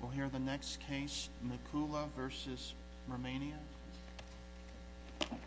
We'll hear the next case, Mikula v. Romania. Thank you.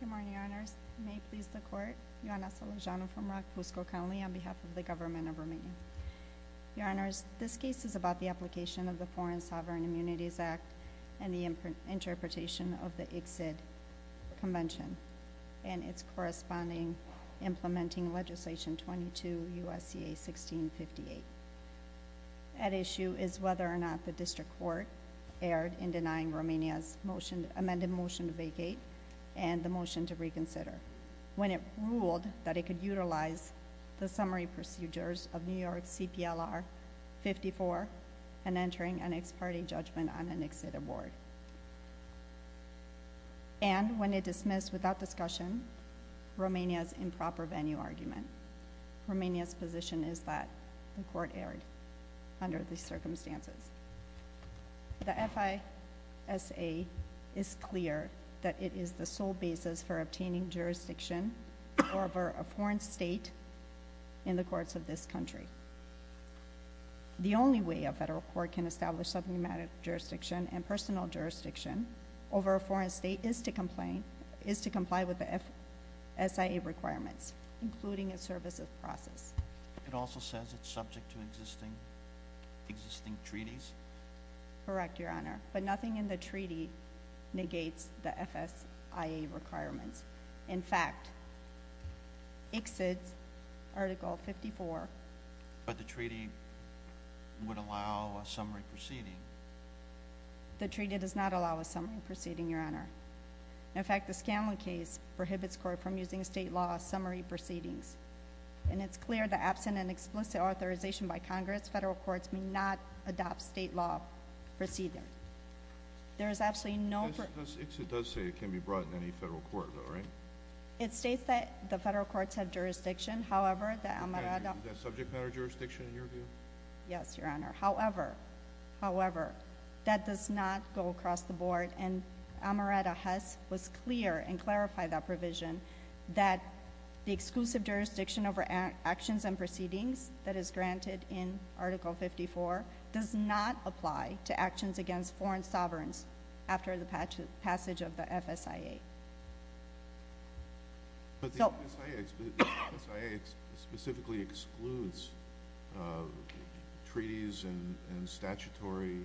Good morning, Your Honors. May it please the Court, Ioana Sălejano from Răg, Cusco County, on behalf of the Government of Romania. Your Honors, this case is about the application of the Foreign Sovereign Immunities Act and the interpretation of the ICSID Convention and its corresponding implementing legislation 22 U.S.C.A. 1658. At issue is whether or not the District Court erred in denying Romania's motion, amended motion to vacate and the motion to reconsider when it ruled that it could utilize the summary And when it dismissed without discussion Romania's improper venue argument. Romania's position is that the Court erred under these circumstances. The FISA is clear that it is the sole basis for obtaining jurisdiction over a foreign state in the courts of this country. The only way a federal court can establish subject matter jurisdiction and personal jurisdiction over a foreign state is to comply with the FSIA requirements, including a services process. It also says it's subject to existing treaties? Correct, Your Honor. But nothing in the treaty negates the FSIA requirements. In fact, ICSID's Article 54. But the treaty would allow a summary proceeding? The treaty does not allow a summary proceeding, Your Honor. In fact, the Scanlon case prohibits the Court from using state law summary proceedings. And it's clear that absent an explicit authorization by Congress, federal courts may not adopt state law proceedings. There is absolutely no... ICSID does say it can be brought in any federal court, though, right? It states that the federal courts have jurisdiction. However, the Amarada... Is that subject matter jurisdiction in your view? Yes, Your Honor. However, however, that does not go across the board. And Amarada Hess was clear and clarified that provision that the exclusive jurisdiction over actions and proceedings that is granted in Article 54 does not apply to actions against foreign sovereigns after the passage of the FSIA. But the FSIA specifically excludes treaties and statutory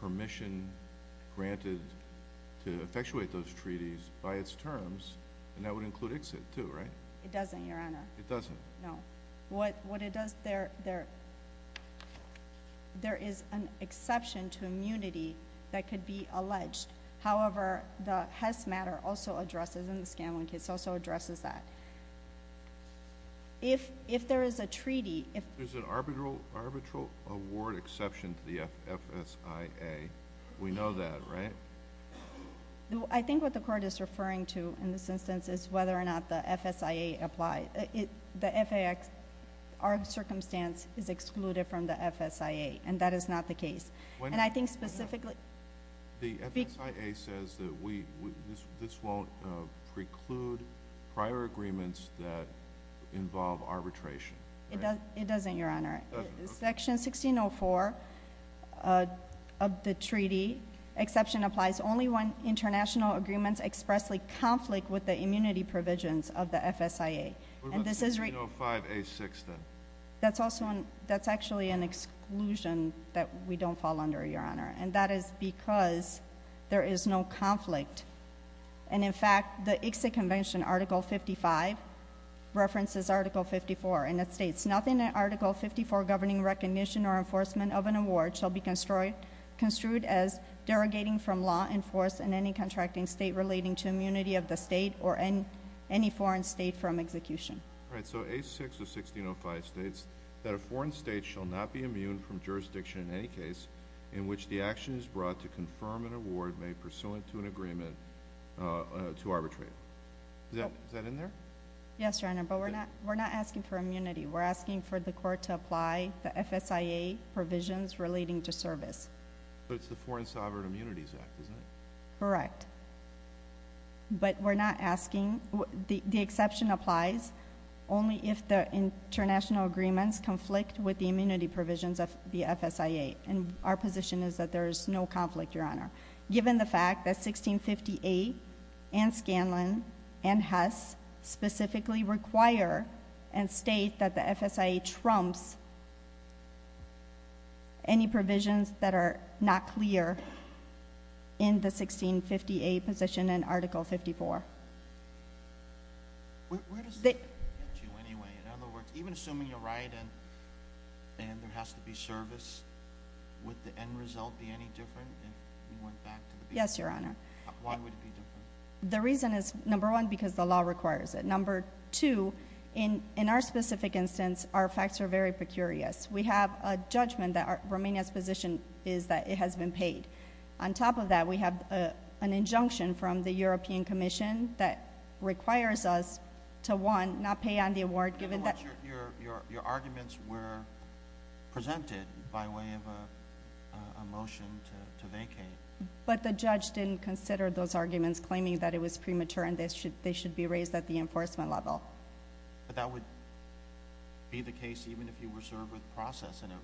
permission granted to effectuate those treaties by its terms, and that would include ICSID, too, right? It doesn't, Your Honor. It doesn't? No. So what it does, there is an exception to immunity that could be alleged. However, the Hess matter also addresses, and the Scanlon case also addresses that. If there is a treaty... If there's an arbitral award exception to the FSIA, we know that, right? I think what the Court is referring to in this instance is whether or not the FSIA applies. Our circumstance is excluded from the FSIA, and that is not the case. And I think specifically... The FSIA says that this won't preclude prior agreements that involve arbitration, right? It doesn't, Your Honor. It doesn't, okay. Section 1604 of the treaty, exception applies only when international agreements expressly What about the 305A6, then? That's also an... That's actually an exclusion that we don't fall under, Your Honor, and that is because there is no conflict. And, in fact, the ICSID Convention Article 55 references Article 54, and it states, Nothing in Article 54 governing recognition or enforcement of an award shall be construed as derogating from law in force in any contracting state relating to immunity of the state or any foreign state from execution. All right. So, A6 of 1605 states that a foreign state shall not be immune from jurisdiction in any case in which the action is brought to confirm an award made pursuant to an agreement to arbitrate. Is that in there? Yes, Your Honor, but we're not asking for immunity. We're asking for the Court to apply the FSIA provisions relating to service. But it's the Foreign Sovereign Immunities Act, isn't it? Correct. But we're not asking... The exception applies only if the international agreements conflict with the immunity provisions of the FSIA, and our position is that there is no conflict, Your Honor, given the fact that 1658 and Scanlon and Hess specifically require and state that the FSIA trumps any provisions that are not clear in the 1658 position in Article 54. Where does that get you anyway? In other words, even assuming you're right and there has to be service, would the end result be any different if we went back to the beginning? Yes, Your Honor. Why would it be different? The reason is, number one, because the law requires it. Number two, in our specific instance, our facts are very precarious. We have a judgment that Romania's position is that it has been paid. On top of that, we have an injunction from the European Commission that requires us to, one, not pay on the award given that... Your arguments were presented by way of a motion to vacate. But the judge didn't consider those arguments, claiming that it was premature and they should be raised at the enforcement level. But that would be the case even if you were served with process in it.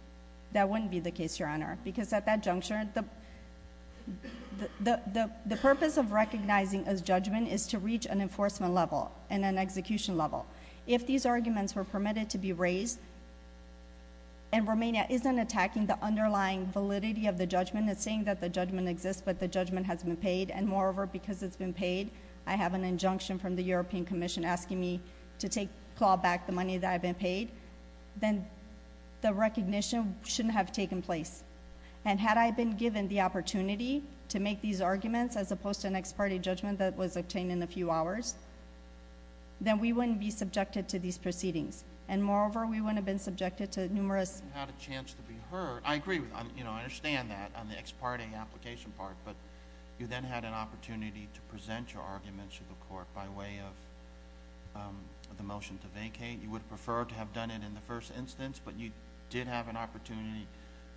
That wouldn't be the case, Your Honor, because at that juncture, the purpose of recognizing a judgment is to reach an enforcement level and an execution level. If these arguments were permitted to be raised and Romania isn't attacking the underlying validity of the judgment, it's saying that the judgment exists but the judgment has been paid, and moreover, because it's been paid, I have an injunction from the European Commission asking me to call back the money that I've been paid, then the recognition shouldn't have taken place. Had I been given the opportunity to make these arguments as opposed to an ex parte judgment that was obtained in a few hours, then we wouldn't be subjected to these proceedings. Moreover, we wouldn't have been subjected to numerous... You had a chance to be heard. I agree with that. I understand that on the ex parte application part, but you then had an opportunity to present your arguments to the court by way of the motion to vacate. You would have preferred to have done it in the first instance, but you did have an opportunity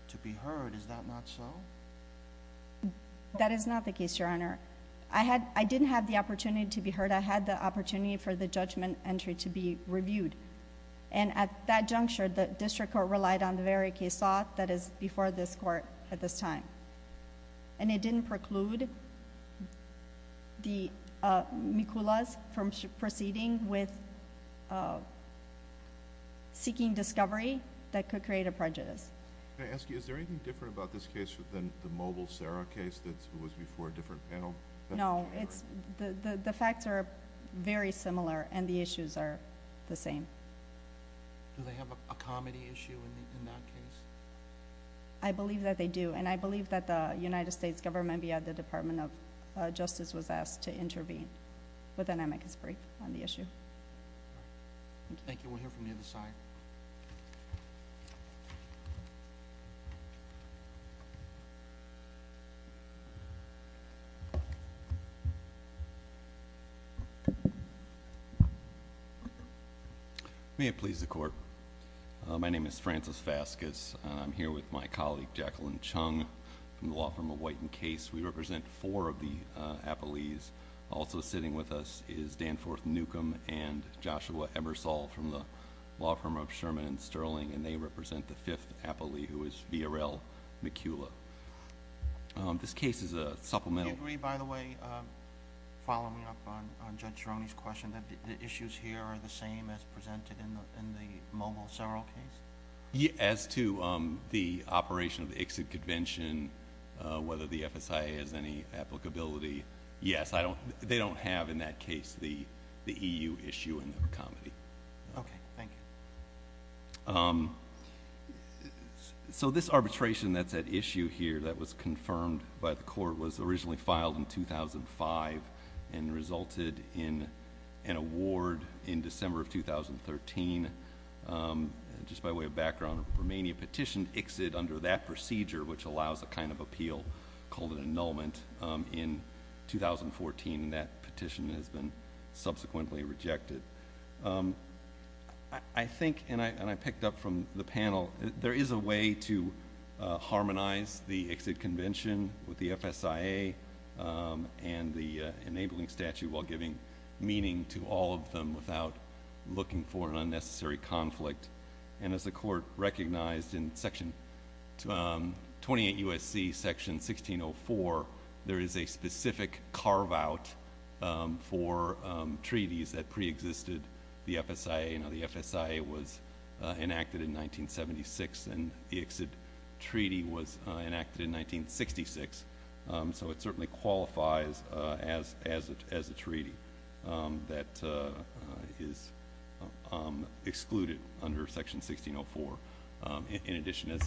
to be heard. Is that not so? That is not the case, Your Honor. I didn't have the opportunity to be heard. I had the opportunity for the judgment entry to be reviewed. At that juncture, the district court relied on the very case law that is before this court at this time. It didn't preclude the Mikulas from proceeding with seeking discovery that could create a prejudice. Can I ask you, is there anything different about this case than the Mobile Sarah case that was before a different panel? No. The facts are very similar and the issues are the same. Do they have a comedy issue in that case? I believe that they do. I believe that the United States government, beyond the Department of Justice, was asked to intervene. Then I make this brief on the issue. Thank you. We'll hear from the other side. May it please the Court. My name is Francis Vasquez. I'm here with my colleague, Jacqueline Chung, from the law firm of White and Case. We represent four of the appellees. Also sitting with us is Danforth Newcomb and Joshua Ebersole from the law firm of Sherman and Sterling. They represent the fifth appellee, who is Viorel Mikula. This case is a supplemental... Do you agree, by the way, following up on Judge Cerrone's question, that the issues here are the same as presented in the Mobile Cerro case? Yes. As to the operation of the exit convention, whether the FSIA has any applicability, yes. They don't have, in that case, the EU issue and the comedy. Okay. Thank you. This arbitration that's at issue here, that was confirmed by the Court, was originally filed in 2005 and resulted in an award in December of 2013. Just by way of background, Romania petitioned exit under that procedure, which allows a kind of appeal, called an annulment, in 2014. That petition has been subsequently rejected. I think, and I picked up from the panel, there is a way to harmonize the exit convention with the FSIA and the enabling statute, while giving meaning to all of them without looking for an unnecessary conflict. As the Court recognized in Section... 28 U.S.C. Section 1604, there is a specific carve-out for treaties that preexisted the FSIA. Now, the FSIA was enacted in 1976, and the exit treaty was enacted in 1966, so it certainly qualifies as a treaty that is excluded under Section 1604. In addition, as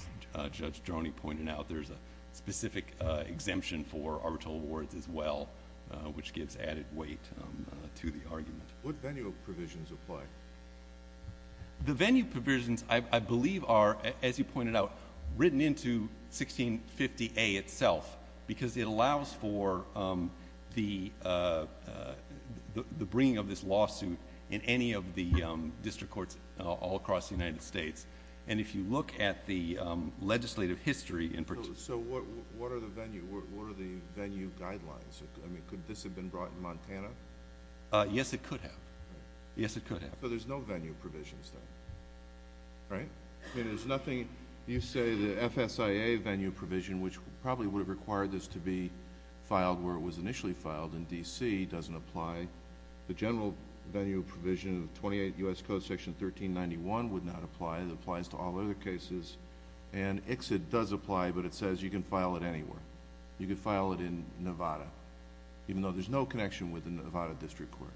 Judge Droney pointed out, there is a specific exemption for arbitral awards as well, which gives added weight to the argument. What venue provisions apply? The venue provisions, I believe, are, as you pointed out, written into 1650A itself, because it allows for the bringing of this lawsuit in any of the district courts all across the United States. If you look at the legislative history... What are the venue guidelines? Could this have been brought in Montana? Yes, it could have. Yes, it could have. So there's no venue provisions, then, right? I mean, there's nothing... you say the FSIA venue provision, which probably would have required this to be filed where it was initially filed in D.C., doesn't apply. The general venue provision of 28 U.S.C. Section 1391 would not apply. It applies to all other cases. And exit does apply, but it says you can file it anywhere. You could file it in Nevada, even though there's no connection with the Nevada District Court.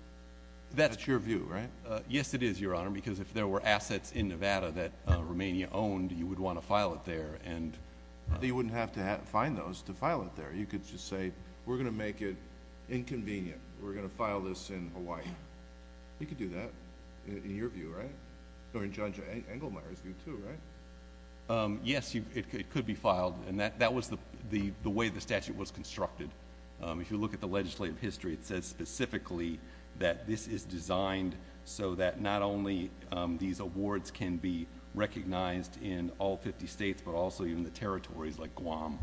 That's your view, right? Yes, it is, Your Honor, because if there were assets in Nevada that Romania owned, you would want to file it there. You wouldn't have to find those to file it there. You could just say, we're going to make it inconvenient. We're going to file this in Hawaii. You could do that, in your view, right? Or in Judge Engelmeyer's view, too, right? Yes, it could be filed. And that was the way the statute was constructed. If you look at the legislative history, it says specifically that this is designed so that not only these awards can be recognized in all 50 states, but also even the territories like Guam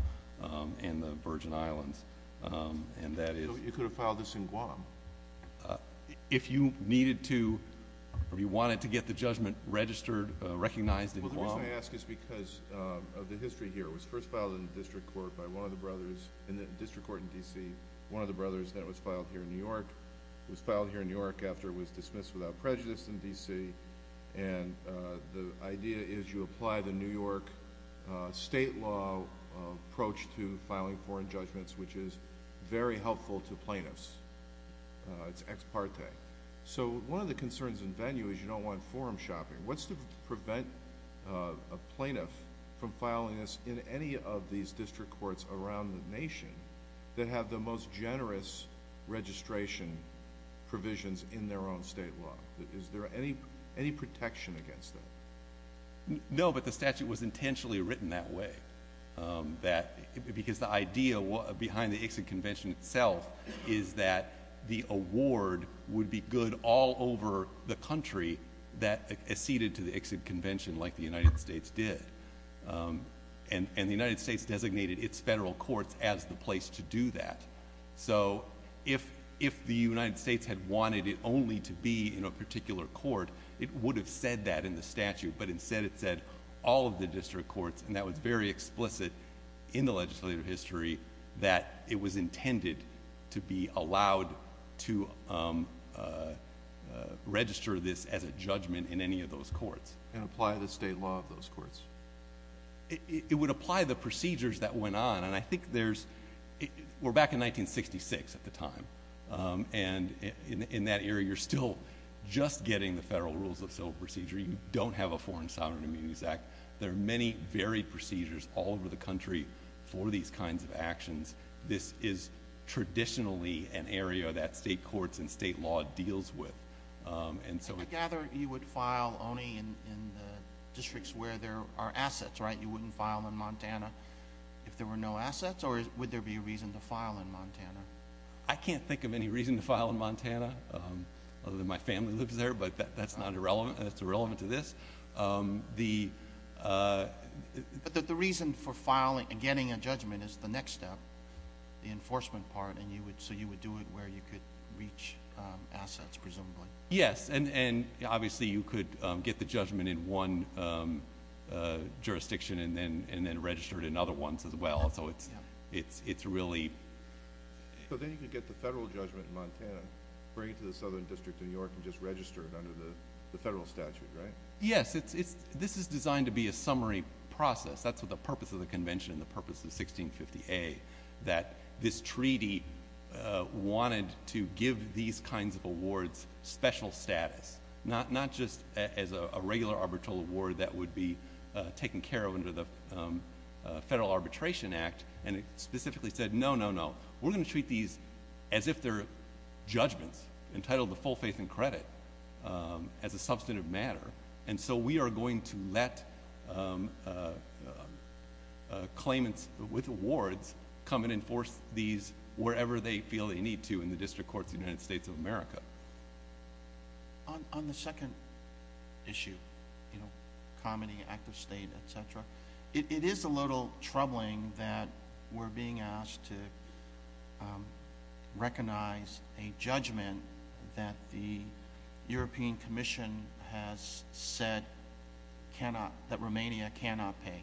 and the Virgin Islands. And that is... So you could have filed this in Guam? If you needed to, if you wanted to get the judgment registered, recognized in Guam... Well, the reason I ask is because of the history here. It was first filed in the district court by one of the brothers, in the district court in D.C., one of the brothers. Then it was filed here in New York. It was filed here in New York after it was dismissed without prejudice in D.C. And the idea is you apply the New York state law approach to filing foreign judgments, which is very helpful to plaintiffs. It's ex parte. So one of the concerns in venue is you don't want forum shopping. What's to prevent a plaintiff from filing this in any of these district courts around the nation that have the most generous registration provisions in their own state law? Is there any protection against that? No, but the statute was intentionally written that way because the idea behind the Ixod Convention itself is that the award would be good all over the country that acceded to the Ixod Convention like the United States did. And the United States designated its federal courts as the place to do that. So if the United States had wanted it only to be in a particular court, it would have said that in the statute, but instead it said all of the district courts, and that was very much intended to be allowed to register this as a judgment in any of those courts. And apply the state law of those courts? It would apply the procedures that went on. And I think there's, we're back in 1966 at the time, and in that era you're still just getting the federal rules of civil procedure. You don't have a Foreign Sovereign Immunities Act. There are many varied procedures all over the country for these kinds of actions. This is traditionally an area that state courts and state law deals with. I gather you would file only in the districts where there are assets, right? You wouldn't file in Montana if there were no assets? Or would there be a reason to file in Montana? I can't think of any reason to file in Montana, other than my family lives there. But that's not irrelevant. That's irrelevant to this. But the reason for getting a judgment is the next step, the enforcement part, and so you would do it where you could reach assets, presumably. Yes, and obviously you could get the judgment in one jurisdiction and then register it in other ones as well. So it's really... So then you could get the federal judgment in Montana, bring it to the Southern District of New York, and just register it under the federal statute, right? Yes, this is designed to be a summary process. That's the purpose of the convention and the purpose of 1650A, that this treaty wanted to give these kinds of awards special status, not just as a regular arbitral award that would be taken care of under the Federal Arbitration Act, and it specifically said, no, no, no, we're going to treat these as if they're judgments, entitled to full faith and credit as a substantive matter, and so we are going to let claimants with awards come and enforce these wherever they feel they need to in the district courts of the United States of America. On the second issue, you know, comedy, active state, et cetera, it is a little troubling that we're being asked to recognize a judgment that the European Commission has said that Romania cannot pay.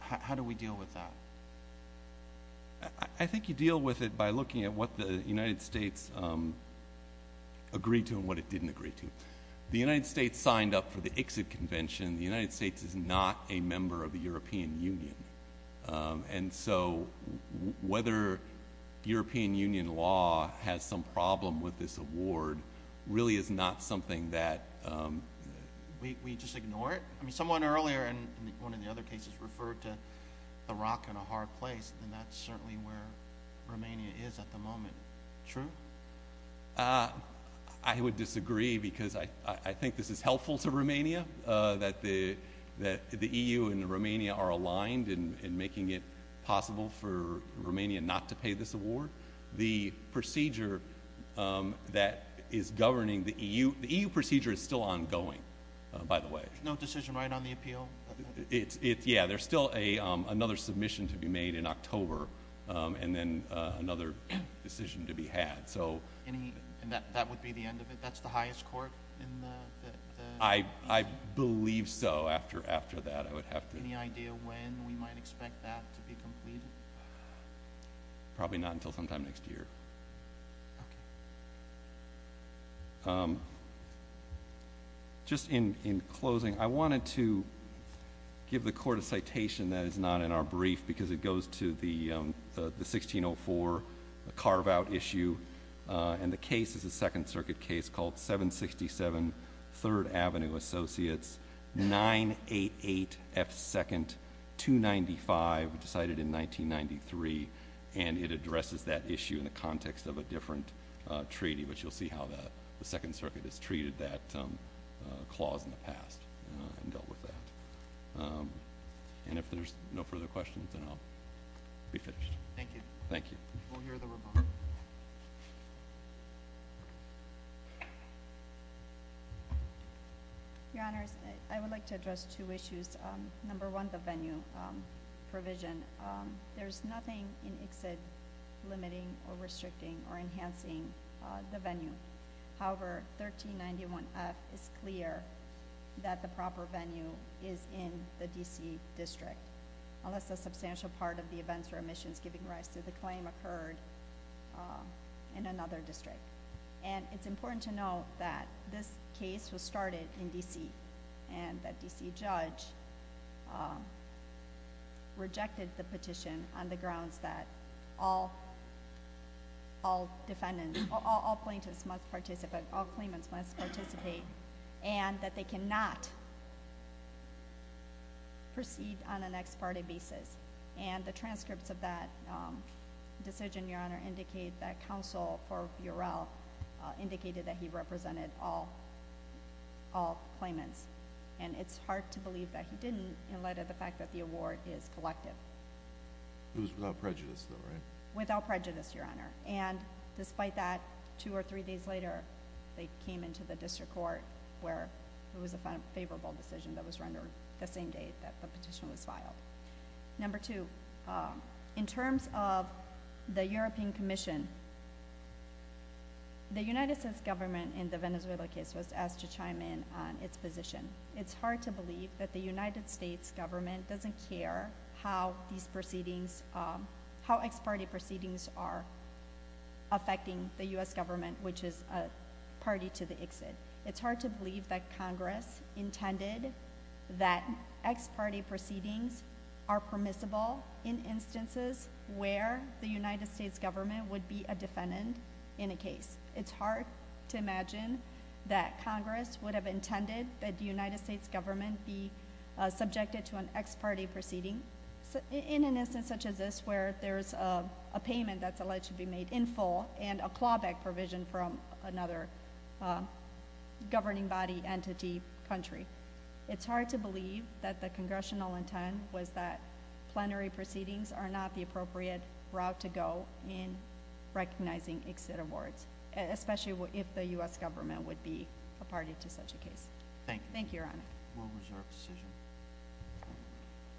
How do we deal with that? I think you deal with it by looking at what the United States agreed to and what it didn't agree to. The United States signed up for the exit convention. The United States is not a member of the European Union, and so whether European Union law has some problem with this award really is not something that we just ignore it. I mean, someone earlier in one of the other cases referred to Iraq in a hard place, and that's certainly where Romania is at the moment. True? I would disagree because I think this is helpful to Romania, that the EU and Romania are aligned in making it possible for Romania not to pay this award. The procedure that is governing the EU, the EU procedure is still ongoing, by the way. No decision right on the appeal? Yeah, there's still another submission to be made in October and then another decision to be had. And that would be the end of it? That's the highest court in the EU? I believe so after that. Any idea when we might expect that to be completed? Probably not until sometime next year. Just in closing, I wanted to give the Court a citation that is not in our brief because it goes to the 1604 carve-out issue, and the case is a Second Circuit case called 767 Third Avenue Associates, 988 F. 2nd, 295, decided in 1993, and it addresses that issue in the context of a different treaty, which you'll see how the Second Circuit has treated that clause in the past and dealt with that. And if there's no further questions, then I'll be finished. Thank you. Thank you. We'll hear the rebuttal. Your Honors, I would like to address two issues. Number one, the venue provision. There's nothing in ICSID limiting or restricting or enhancing the venue. However, 1391F is clear that the proper venue is in the D.C. District, unless a substantial part of the events or omissions giving rise to the claim occurred in another district. And it's important to note that this case was started in D.C. And the D.C. judge rejected the petition on the grounds that all defendants, all plaintiffs must participate, all claimants must participate, and that they cannot proceed on an ex parte basis. And the transcripts of that decision, Your Honor, indicate that counsel for Burel indicated that he represented all claimants. And it's hard to believe that he didn't in light of the fact that the award is collective. It was without prejudice, though, right? Without prejudice, Your Honor. And despite that, two or three days later, they came into the District Court where it was a favorable decision that was rendered the same day that the petition was filed. Number two, in terms of the European Commission, the United States government in the Venezuela case was asked to chime in on its position. It's hard to believe that the United States government doesn't care how these proceedings, how ex parte proceedings are affecting the U.S. government, which is a party to the exit. It's hard to believe that Congress intended that ex parte proceedings are permissible in instances where the United States government would be a defendant in a case. It's hard to imagine that Congress would have intended that the United States government be subjected to an ex parte proceeding in an instance such as this where there's a payment that's alleged to be made in full and a clawback provision from another governing body, entity, country. It's hard to believe that the Congressional intent was that plenary proceedings are not the appropriate route to go in recognizing exit awards, especially if the U.S. government would be a party to such a case. Thank you. Thank you, Your Honor. Will reserve the decision.